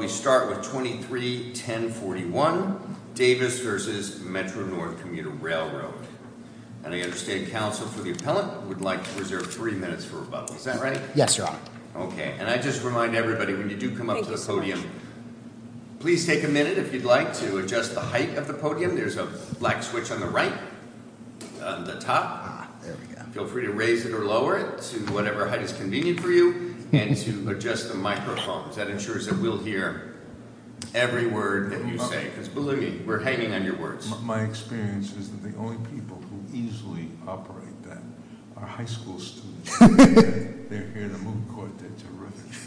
We start with 23-1041 Davis versus Metro North Commuter Railroad. And I understand counsel for the appellant would like to reserve three minutes for rebuttal. Is that right? Yes, your honor. Okay. And I just remind everybody when you do come up to the podium, please take a minute if you'd like to adjust the height of the podium. There's a black switch on the right on the top. Feel free to raise it or lower it to whatever height is convenient for you and to adjust the microphones. That ensures that we'll hear every word that you say. Because, believe me, we're hanging on your words. My experience is that the only people who easily operate them are high school students. They're here in a moot court. They're terrific.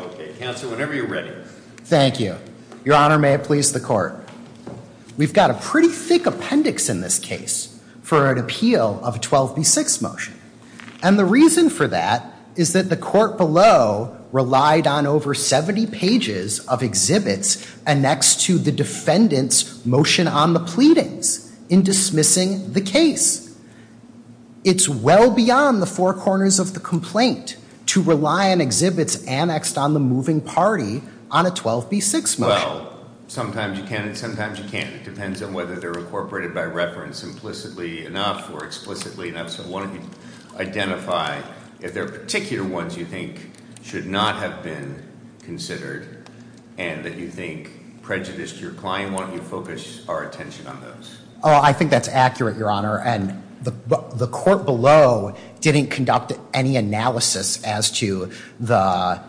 Okay. Counsel, whenever you're ready. Thank you. Your honor, may it please the court. We've got a pretty thick appendix in this case for an appeal of a 12B6 motion. And the reason for that is that the court below relied on over 70 pages of exhibits annexed to the defendant's motion on the pleadings in dismissing the case. It's well beyond the four corners of the complaint to rely on exhibits annexed on the moving party on a 12B6 motion. Well, sometimes you can and sometimes you can't. It depends on whether they're incorporated by reference implicitly enough or explicitly enough. So why don't you identify if there are particular ones you think should not have been considered and that you think prejudiced your client. Why don't you focus our attention on those? Oh, I think that's accurate, your honor. And the court below didn't conduct any analysis as to the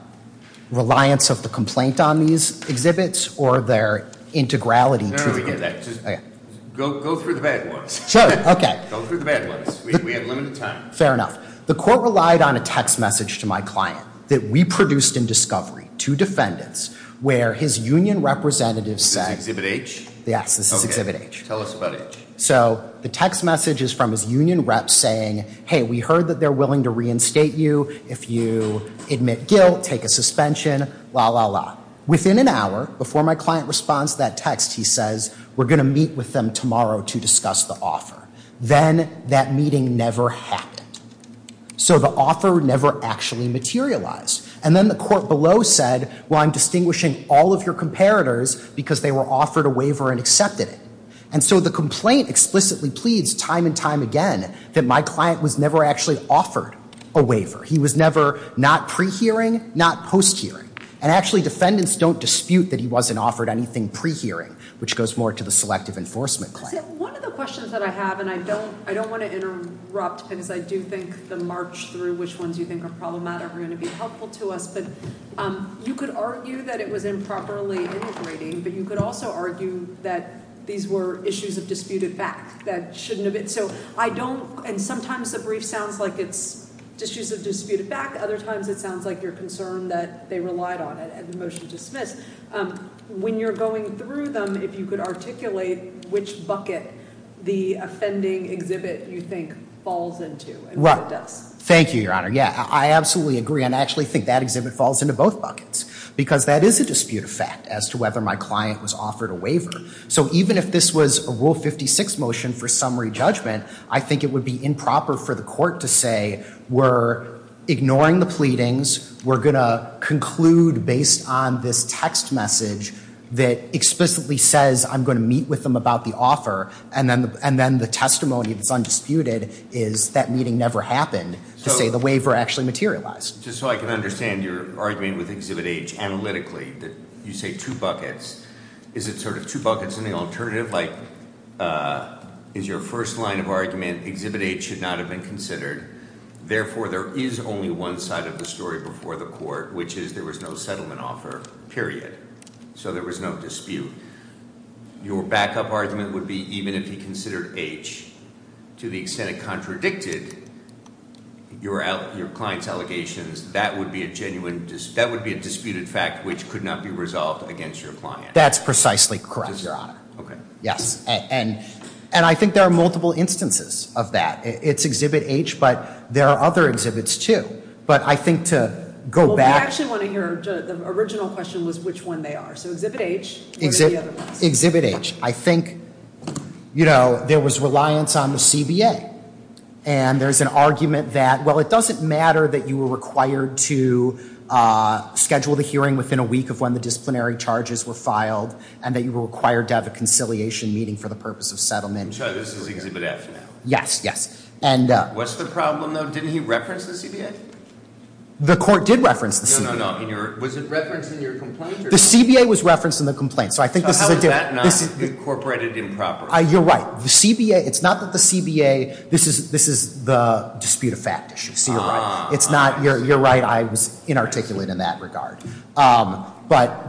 reliance of the complaint on these exhibits or their integrality. No, no, we did that. Go through the bad ones. Okay. Go through the bad ones. We had limited time. Fair enough. The court relied on a text message to my client that we produced in discovery to defendants where his union representatives said. Is this exhibit H? Yes, this is exhibit H. Okay. Tell us about H. So the text message is from his union reps saying, hey, we heard that they're willing to reinstate you if you admit guilt, take a suspension, la, la, la. Within an hour before my client responds to that text, he says, we're going to meet with them tomorrow to discuss the offer. Then that meeting never happened. So the offer never actually materialized. And then the court below said, well, I'm distinguishing all of your comparators because they were offered a waiver and accepted it. And so the complaint explicitly pleads time and time again that my client was never actually offered a waiver. He was never not pre-hearing, not post-hearing. And actually defendants don't dispute that he wasn't offered anything pre-hearing, which goes more to the selective enforcement claim. One of the questions that I have, and I don't want to interrupt because I do think the march through which ones you think are problematic are going to be helpful to us, but you could argue that it was improperly integrating, but you could also argue that these were issues of disputed back that shouldn't have been. So I don't, and sometimes the brief sounds like it's issues of disputed back. Other times it sounds like you're concerned that they relied on it and the motion dismissed. When you're going through them, if you could articulate which bucket the offending exhibit you think falls into. Thank you, Your Honor. Yeah, I absolutely agree, and I actually think that exhibit falls into both buckets because that is a disputed fact as to whether my client was offered a waiver. So even if this was a Rule 56 motion for summary judgment, I think it would be improper for the court to say we're ignoring the pleadings, we're going to conclude based on this text message that explicitly says I'm going to meet with them about the offer, and then the testimony that's undisputed is that meeting never happened to say the waiver actually materialized. Just so I can understand your argument with exhibit H analytically, you say two buckets. Is it sort of two buckets in the alternative? Like is your first line of argument exhibit H should not have been considered, therefore there is only one side of the story before the court, which is there was no settlement offer, period. So there was no dispute. Your backup argument would be even if you considered H, to the extent it contradicted your client's allegations, that would be a disputed fact which could not be resolved against your client. That's precisely correct, Your Honor. Okay. Yes, and I think there are multiple instances of that. It's exhibit H, but there are other exhibits, too. But I think to go back. Well, we actually want to hear, the original question was which one they are. So exhibit H or the other ones. Exhibit H. I think, you know, there was reliance on the CBA, and there's an argument that, well, it doesn't matter that you were required to schedule the hearing within a week of when the disciplinary charges were filed and that you were required to have a conciliation meeting for the purpose of settlement. I'm sorry, this is exhibit F now. Yes, yes. What's the problem, though? Didn't he reference the CBA? The court did reference the CBA. No, no, no. Was it referenced in your complaint? The CBA was referenced in the complaint. So how is that not incorporated improperly? You're right. The CBA, it's not that the CBA, this is the disputed fact issue. So you're right. You're right. I was inarticulate in that regard. But,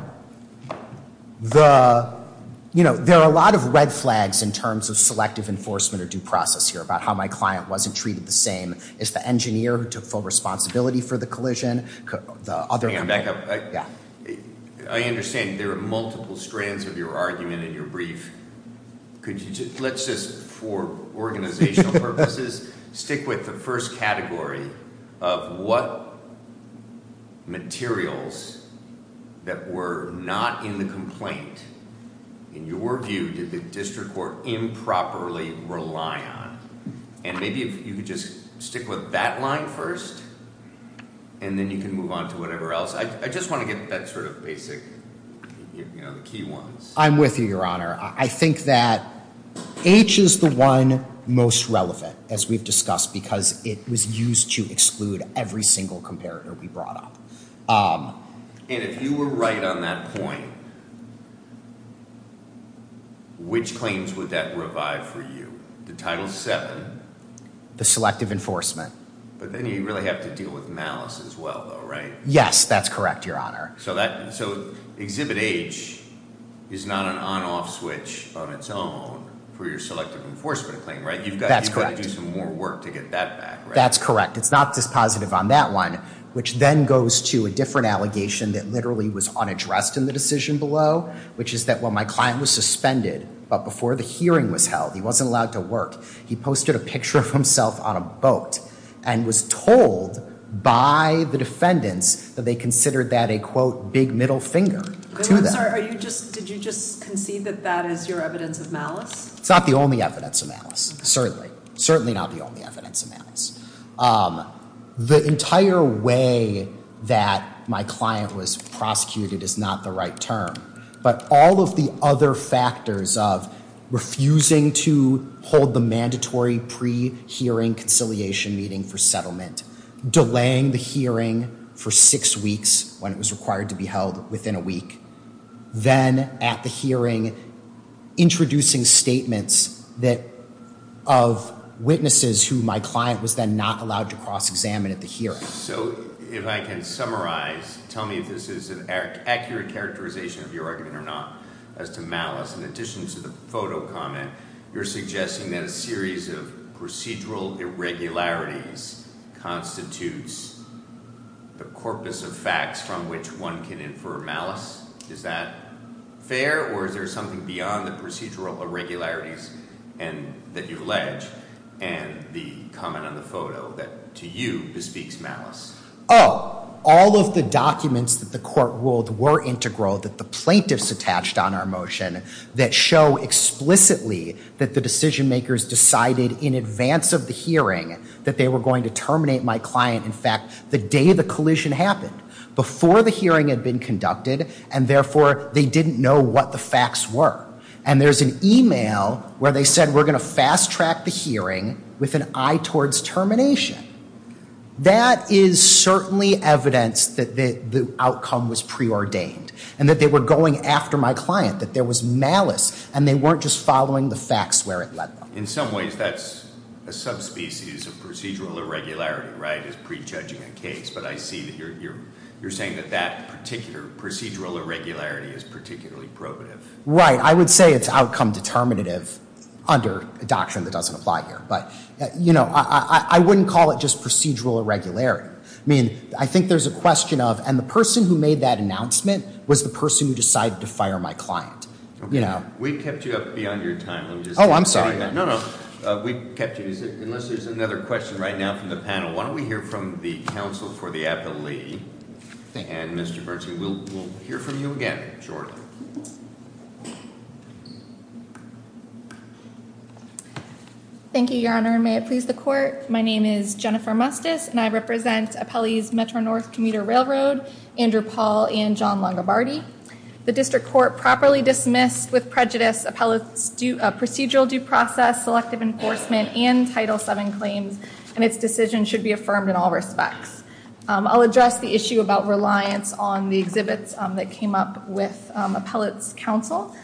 you know, there are a lot of red flags in terms of selective enforcement or due process here about how my client wasn't treated the same. It's the engineer who took full responsibility for the collision, the other- Hang on, back up. Yeah. I understand there are multiple strands of your argument in your brief. Let's just, for organizational purposes, stick with the first category of what materials that were not in the complaint, in your view, did the district court improperly rely on? And maybe if you could just stick with that line first, and then you can move on to whatever else. I just want to get that sort of basic, you know, the key ones. I think that H is the one most relevant, as we've discussed, because it was used to exclude every single comparator we brought up. And if you were right on that point, which claims would that revive for you? The Title VII? The selective enforcement. But then you really have to deal with malice as well, though, right? Yes, that's correct, Your Honor. So Exhibit H is not an on-off switch on its own for your selective enforcement claim, right? That's correct. You've got to do some more work to get that back, right? That's correct. It's not dispositive on that one, which then goes to a different allegation that literally was unaddressed in the decision below, which is that when my client was suspended, but before the hearing was held, he wasn't allowed to work, he posted a picture of himself on a boat and was told by the defendants that they considered that a, quote, big middle finger to them. I'm sorry. Did you just concede that that is your evidence of malice? It's not the only evidence of malice, certainly. Certainly not the only evidence of malice. The entire way that my client was prosecuted is not the right term. But all of the other factors of refusing to hold the mandatory pre-hearing conciliation meeting for settlement, delaying the hearing for six weeks when it was required to be held within a week, then at the hearing introducing statements of witnesses who my client was then not allowed to cross-examine at the hearing. So if I can summarize, tell me if this is an accurate characterization of your argument or not as to malice. In addition to the photo comment, you're suggesting that a series of procedural irregularities constitutes the corpus of facts from which one can infer malice. Is that fair or is there something beyond the procedural irregularities that you've alleged and the comment on the photo that to you bespeaks malice? Oh, all of the documents that the court ruled were integral, that the plaintiffs attached on our motion, that show explicitly that the decision-makers decided in advance of the hearing that they were going to terminate my client, in fact, the day the collision happened. Before the hearing had been conducted and therefore they didn't know what the facts were. And there's an email where they said we're going to fast-track the hearing with an eye towards termination. That is certainly evidence that the outcome was preordained and that they were going after my client, that there was malice and they weren't just following the facts where it led them. In some ways, that's a subspecies of procedural irregularity, right, is prejudging a case. But I see that you're saying that that particular procedural irregularity is particularly probative. Right, I would say it's outcome determinative under a doctrine that doesn't apply here. But, you know, I wouldn't call it just procedural irregularity. I mean, I think there's a question of, and the person who made that announcement was the person who decided to fire my client. We kept you up beyond your time. Oh, I'm sorry. No, no, we kept you. Unless there's another question right now from the panel, why don't we hear from the counsel for the appellee. And Mr. Bernstein, we'll hear from you again shortly. Thank you, Your Honor, and may it please the Court. My name is Jennifer Mustis, and I represent Appellees Metro-North Commuter Railroad, Andrew Paul and John Longobardi. The district court properly dismissed with prejudice appellate's procedural due process, selective enforcement, and Title VII claims, and its decision should be affirmed in all respects. I'll address the issue about reliance on the exhibits that came up with appellate's counsel.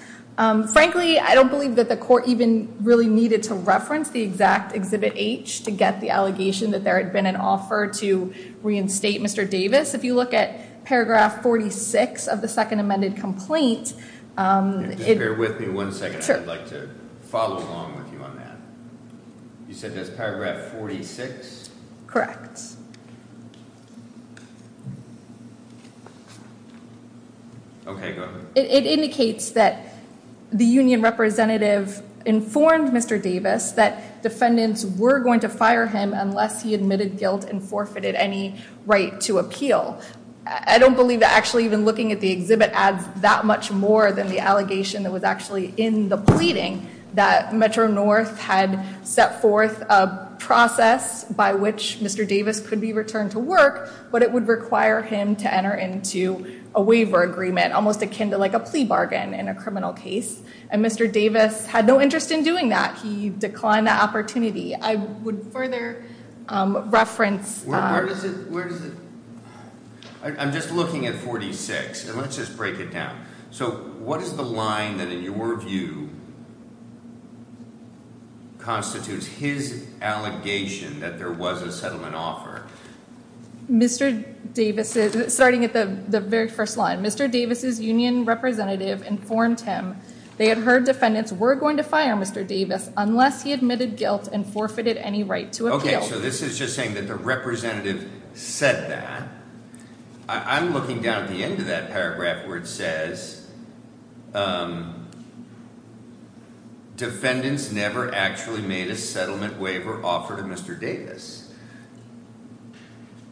Frankly, I don't believe that the court even really needed to reference the exact Exhibit H to get the allegation that there had been an offer to reinstate Mr. Davis. If you look at paragraph 46 of the second amended complaint. Bear with me one second. I'd like to follow along with you on that. You said there's paragraph 46? Correct. Okay, go ahead. It indicates that the union representative informed Mr. Davis that defendants were going to fire him unless he admitted guilt and forfeited any right to appeal. I don't believe that actually even looking at the exhibit adds that much more than the allegation that was actually in the pleading that Metro-North had set forth a process by which Mr. Davis could be returned to work, but it would require him to enter into a waiver agreement, almost akin to like a plea bargain in a criminal case, and Mr. Davis had no interest in doing that. He declined the opportunity. I would further reference. Where does it? I'm just looking at 46, and let's just break it down. So what is the line that, in your view, constitutes his allegation that there was a settlement offer? Starting at the very first line, Mr. Davis's union representative informed him they had heard defendants were going to fire Mr. Davis unless he admitted guilt and forfeited any right to appeal. Okay, so this is just saying that the representative said that. I'm looking down at the end of that paragraph where it says defendants never actually made a settlement waiver offer to Mr. Davis.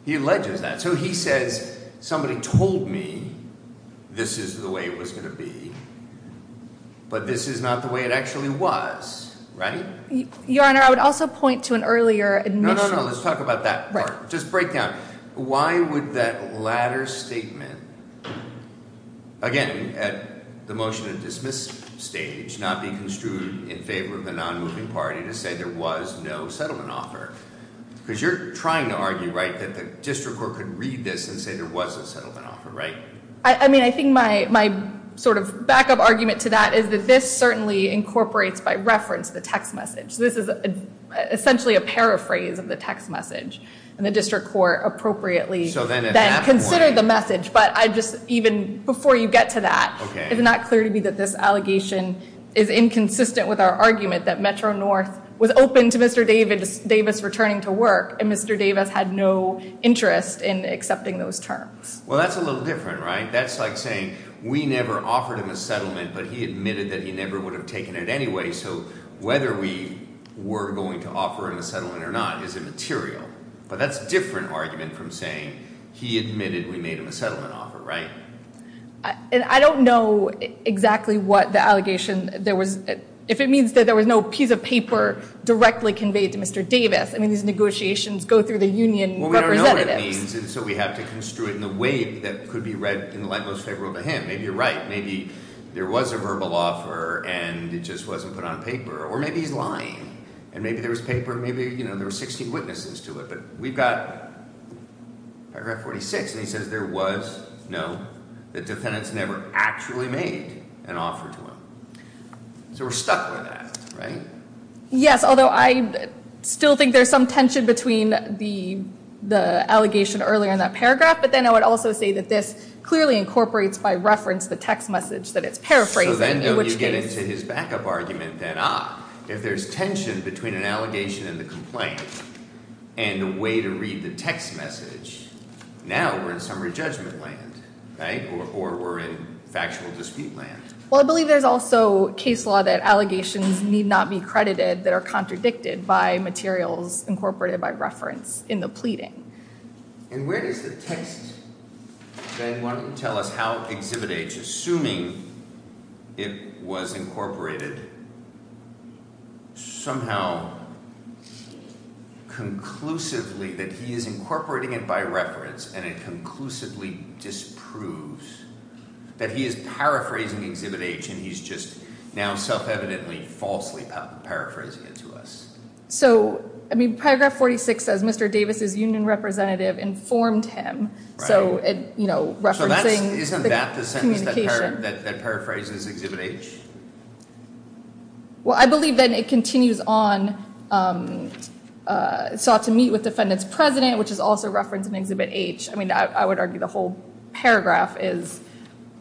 He alleges that. So he says somebody told me this is the way it was going to be, but this is not the way it actually was, right? Your Honor, I would also point to an earlier admission. No, no, no. Let's talk about that part. Just break down. Why would that latter statement, again, at the motion to dismiss stage, not be construed in favor of the non-moving party to say there was no settlement offer? Because you're trying to argue, right, that the district court could read this and say there was a settlement offer, right? I mean, I think my sort of backup argument to that is that this certainly incorporates by reference the text message. This is essentially a paraphrase of the text message, and the district court appropriately then considered the message. But even before you get to that, it's not clear to me that this allegation is inconsistent with our argument that Metro North was open to Mr. Davis returning to work, and Mr. Davis had no interest in accepting those terms. Well, that's a little different, right? That's like saying we never offered him a settlement, but he admitted that he never would have taken it anyway. So whether we were going to offer him a settlement or not is immaterial. But that's a different argument from saying he admitted we made him a settlement offer, right? And I don't know exactly what the allegation, if it means that there was no piece of paper directly conveyed to Mr. Davis. I mean, these negotiations go through the union representatives. Well, we don't know what it means, and so we have to construe it in a way that could be read in the light most favorable to him. Maybe you're right. Maybe there was a verbal offer, and it just wasn't put on paper. Or maybe he's lying, and maybe there was paper, and maybe there were 16 witnesses to it. But we've got paragraph 46, and he says there was, no, that defendants never actually made an offer to him. So we're stuck with that, right? Yes, although I still think there's some tension between the allegation earlier in that paragraph, but then I would also say that this clearly incorporates by reference the text message that it's paraphrasing. So then don't you get into his backup argument that, ah, if there's tension between an allegation and the complaint and a way to read the text message, now we're in summary judgment land, right, or we're in factual dispute land. Well, I believe there's also case law that allegations need not be credited that are contradicted by materials incorporated by reference in the pleading. And where does the text then tell us how Exhibit H, assuming it was incorporated, somehow conclusively that he is incorporating it by reference and it conclusively disproves that he is paraphrasing Exhibit H and he's just now self-evidently falsely paraphrasing it to us? So, I mean, paragraph 46 says Mr. Davis's union representative informed him. So, you know, referencing the communication. So isn't that the sentence that paraphrases Exhibit H? Well, I believe then it continues on, sought to meet with defendant's president, which is also referenced in Exhibit H. I mean, I would argue the whole paragraph is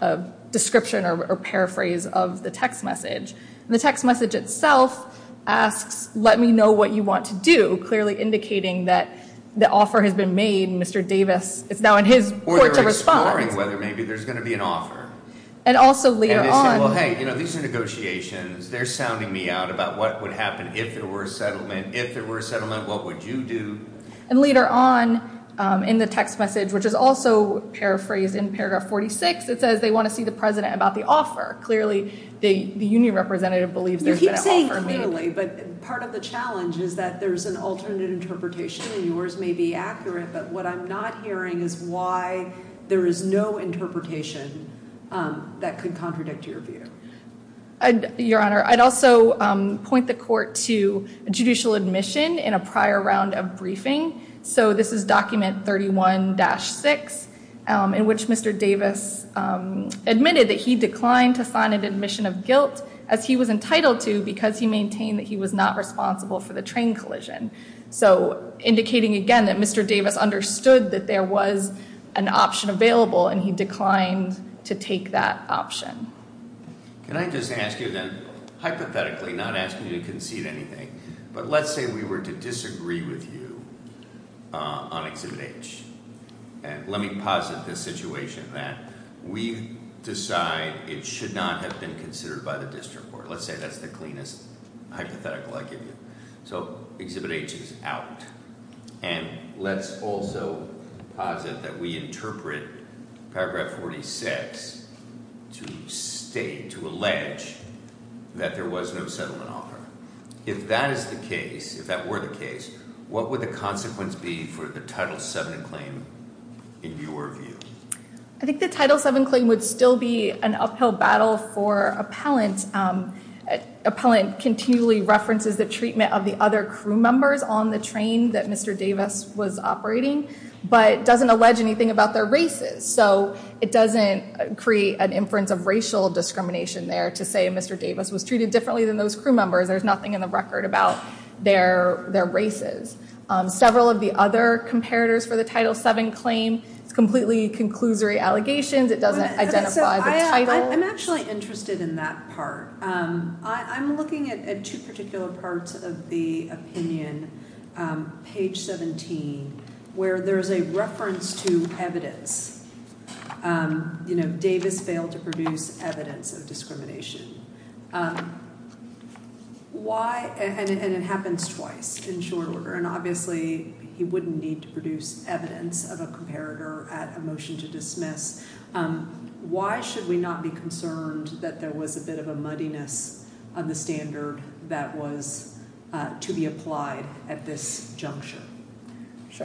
a description or paraphrase of the text message. And the text message itself asks, let me know what you want to do, clearly indicating that the offer has been made and Mr. Davis is now in his court to respond. Or they're exploring whether maybe there's going to be an offer. And also later on. And they say, well, hey, you know, these are negotiations. They're sounding me out about what would happen if there were a settlement. If there were a settlement, what would you do? And later on in the text message, which is also paraphrased in paragraph 46, it says they want to see the president about the offer. Clearly, the union representative believes there's been an offer made. You keep saying clearly, but part of the challenge is that there's an alternate interpretation. Yours may be accurate, but what I'm not hearing is why there is no interpretation that could contradict your view. Your Honor, I'd also point the court to judicial admission in a prior round of briefing. So this is document 31-6, in which Mr. Davis admitted that he declined to sign an admission of guilt as he was entitled to, because he maintained that he was not responsible for the train collision. So indicating again that Mr. Davis understood that there was an option available, and he declined to take that option. Can I just ask you then, hypothetically, not asking you to concede anything, but let's say we were to disagree with you on Exhibit H. And let me posit the situation that we decide it should not have been considered by the district court. Let's say that's the cleanest hypothetical I give you. So Exhibit H is out. And let's also posit that we interpret Paragraph 46 to state, to allege, that there was no settlement offer. If that is the case, if that were the case, what would the consequence be for the Title VII claim in your view? I think the Title VII claim would still be an uphill battle for appellant. Appellant continually references the treatment of the other crew members on the train that Mr. Davis was operating, but doesn't allege anything about their races. So it doesn't create an inference of racial discrimination there to say Mr. Davis was treated differently than those crew members. There's nothing in the record about their races. Several of the other comparators for the Title VII claim, it's completely conclusory allegations. It doesn't identify the title. I'm actually interested in that part. I'm looking at two particular parts of the opinion, page 17, where there's a reference to evidence. You know, Davis failed to produce evidence of discrimination. Why? And it happens twice in short order. And obviously he wouldn't need to produce evidence of a comparator at a motion to dismiss. Why should we not be concerned that there was a bit of a muddiness on the standard that was to be applied at this juncture?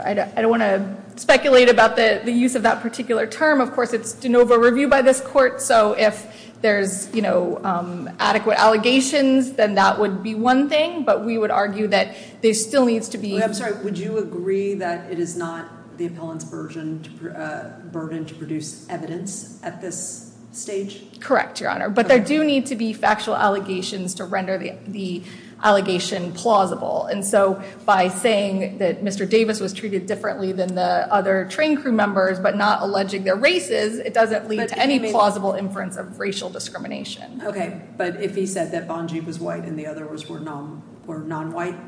I don't want to speculate about the use of that particular term. Of course, it's de novo review by this court. So if there's, you know, adequate allegations, then that would be one thing. But we would argue that there still needs to be. I'm sorry. Would you agree that it is not the appellant's burden to produce evidence at this stage? Correct, Your Honor. But there do need to be factual allegations to render the allegation plausible. And so by saying that Mr. Davis was treated differently than the other train crew members, but not alleging their races, it doesn't lead to any plausible inference of racial discrimination. OK, but if he said that Bungie was white and the others were non white,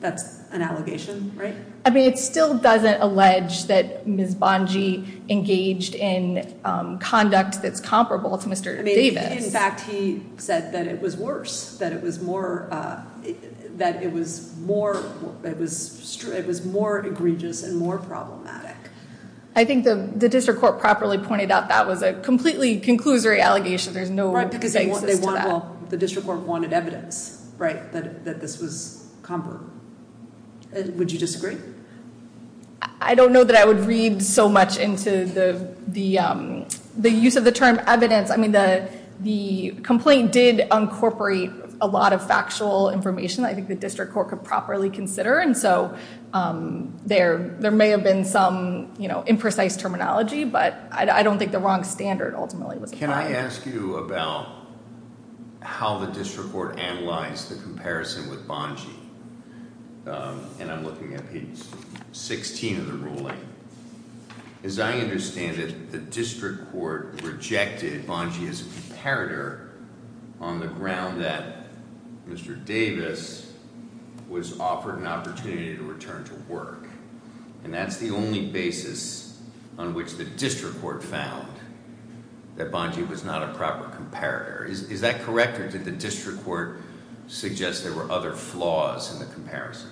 that's an allegation, right? I mean, it still doesn't allege that Ms. Bungie engaged in conduct that's comparable to Mr. Davis. In fact, he said that it was worse, that it was more that it was more it was it was more egregious and more problematic. I think the district court properly pointed out that was a completely conclusory allegation. There's no right because they want the district court wanted evidence. Right. That this was comparable. Would you disagree? I don't know that I would read so much into the the the use of the term evidence. I mean, the the complaint did incorporate a lot of factual information. I think the district court could properly consider. And so there there may have been some, you know, imprecise terminology. But I don't think the wrong standard ultimately was can I ask you about how the district court analyzed the comparison with Bungie? And I'm looking at page 16 of the ruling. As I understand it, the district court rejected Bungie as a comparator on the ground that Mr. Davis was offered an opportunity to return to work. And that's the only basis on which the district court found that Bungie was not a proper comparator. Is that correct? Or did the district court suggest there were other flaws in the comparison?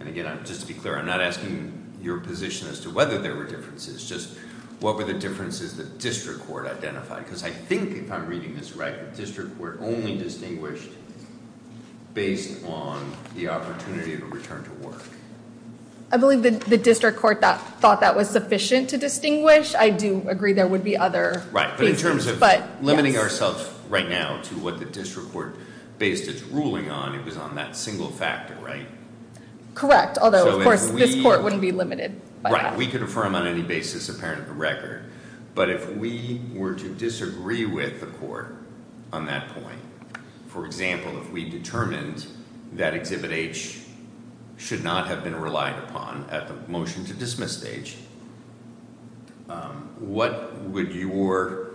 And again, just to be clear, I'm not asking your position as to whether there were differences. Just what were the differences that district court identified? Because I think if I'm reading this right, the district were only distinguished based on the opportunity to return to work. I believe the district court thought that was sufficient to distinguish. I do agree. There would be other. Right. But in terms of limiting ourselves right now to what the district court based its ruling on, it was on that single factor, right? Correct. Although, of course, this court wouldn't be limited. We could affirm on any basis apparent to the record. But if we were to disagree with the court on that point, for example, if we determined that Exhibit H should not have been relied upon at the motion to dismiss stage, what would your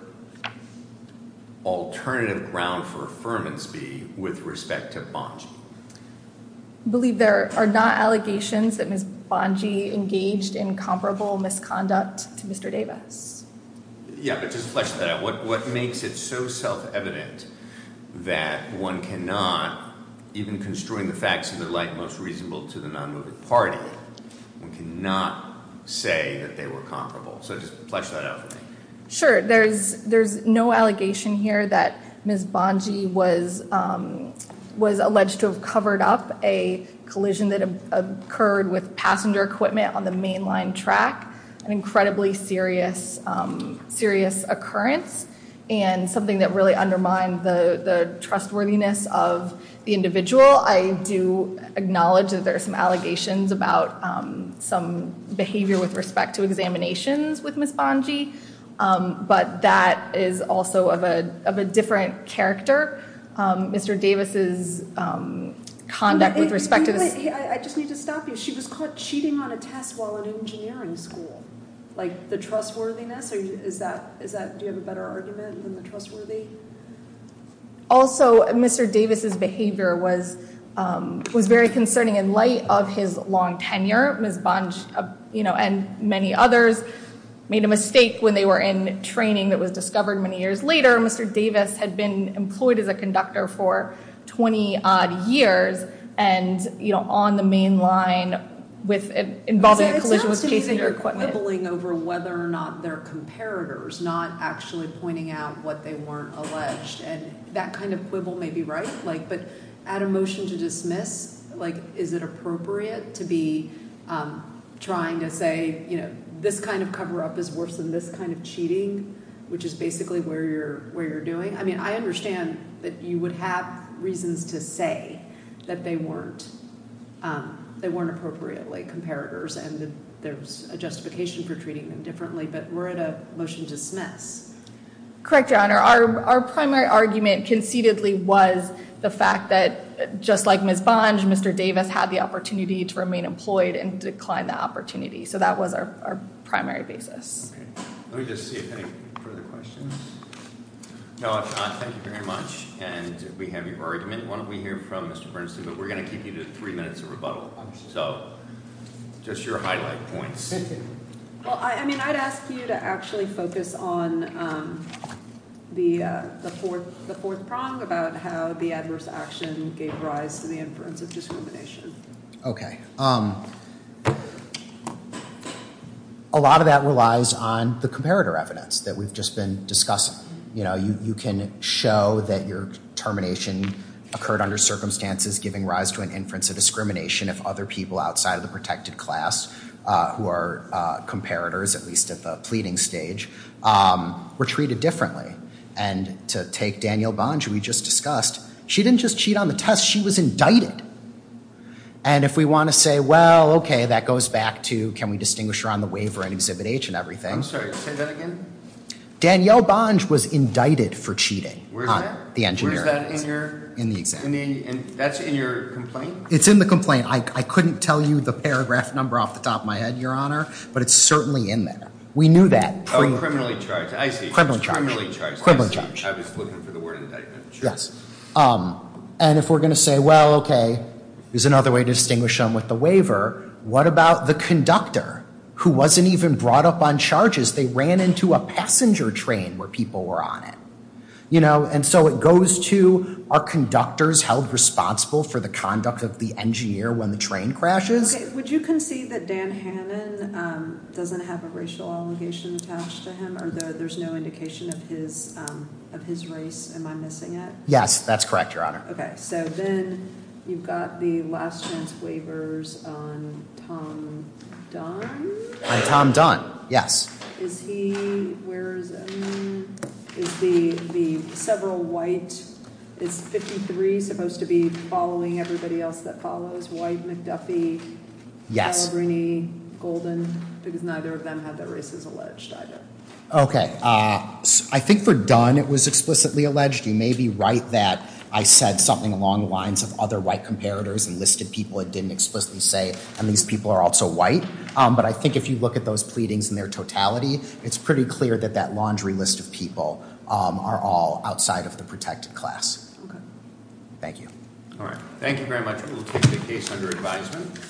alternative ground for affirmance be with respect to Bungie? I believe there are not allegations that Ms. Bungie engaged in comparable misconduct to Mr. Davis. Yeah, but just flesh that out. What makes it so self-evident that one cannot, even construing the facts of their life, most reasonable to the non-moving party, one cannot say that they were comparable? So just flesh that out for me. Sure. There's no allegation here that Ms. Bungie was alleged to have covered up a collision that occurred with passenger equipment on the mainline track, an incredibly serious occurrence, and something that really undermined the trustworthiness of the individual. I do acknowledge that there are some allegations about some behavior with respect to examinations with Ms. Bungie, but that is also of a different character. Mr. Davis's conduct with respect to this- I just need to stop you. She was caught cheating on a test while in engineering school. Like, the trustworthiness? Do you have a better argument than the trustworthiness? Also, Mr. Davis's behavior was very concerning in light of his long tenure. Ms. Bungie and many others made a mistake when they were in training that was discovered many years later. Mr. Davis had been employed as a conductor for 20-odd years and on the mainline involving a collision with passenger equipment. Quibbling over whether or not they're comparators, not actually pointing out what they weren't alleged, and that kind of quibble may be right, but at a motion to dismiss, is it appropriate to be trying to say, this kind of cover-up is worse than this kind of cheating, which is basically where you're doing? I mean, I understand that you would have reasons to say that they weren't appropriately comparators and there's a justification for treating them differently, but we're at a motion to dismiss. Correct, Your Honor. Our primary argument concededly was the fact that, just like Ms. Bungie, Mr. Davis had the opportunity to remain employed and declined that opportunity. So that was our primary basis. Let me just see if there are any further questions. No, there are not. Thank you very much. And we have your argument. Why don't we hear from Mr. Bernstein, but we're going to keep you to three minutes of rebuttal. So, just your highlight points. Well, I mean, I'd ask you to actually focus on the fourth prong about how the adverse action gave rise to the inference of discrimination. Okay. A lot of that relies on the comparator evidence that we've just been discussing. You know, you can show that your termination occurred under circumstances giving rise to an inference of discrimination if other people outside of the protected class who are comparators, at least at the pleading stage, were treated differently. And to take Danielle Bonge, who we just discussed, she didn't just cheat on the test, she was indicted. And if we want to say, well, okay, that goes back to can we distinguish her on the waiver and Exhibit H and everything. I'm sorry, say that again? Danielle Bonge was indicted for cheating on the engineering exam. Where's that in your complaint? It's in the complaint. I couldn't tell you the paragraph number off the top of my head, Your Honor, but it's certainly in there. We knew that. Oh, criminally charged. I see. Criminally charged. I was looking for the word indictment. Yes. And if we're going to say, well, okay, here's another way to distinguish them with the waiver. What about the conductor who wasn't even brought up on charges? They ran into a passenger train where people were on it. And so it goes to are conductors held responsible for the conduct of the engineer when the train crashes? Would you concede that Dan Hannan doesn't have a racial allegation attached to him or there's no indication of his race? Am I missing it? Yes, that's correct, Your Honor. Okay. So then you've got the last chance waivers on Tom Dunn? Tom Dunn, yes. Is he, where is it? Is the several white, is 53 supposed to be following everybody else that follows? White, McDuffie, Calabrini, Golden? Because neither of them have their races alleged, either. Okay. I think for Dunn it was explicitly alleged. You may be right that I said something along the lines of other white comparators and listed people it didn't explicitly say. And these people are also white. But I think if you look at those pleadings in their totality, it's pretty clear that that laundry list of people are all outside of the protected class. Okay. Thank you. All right. Thank you very much. We will take the case under advisement.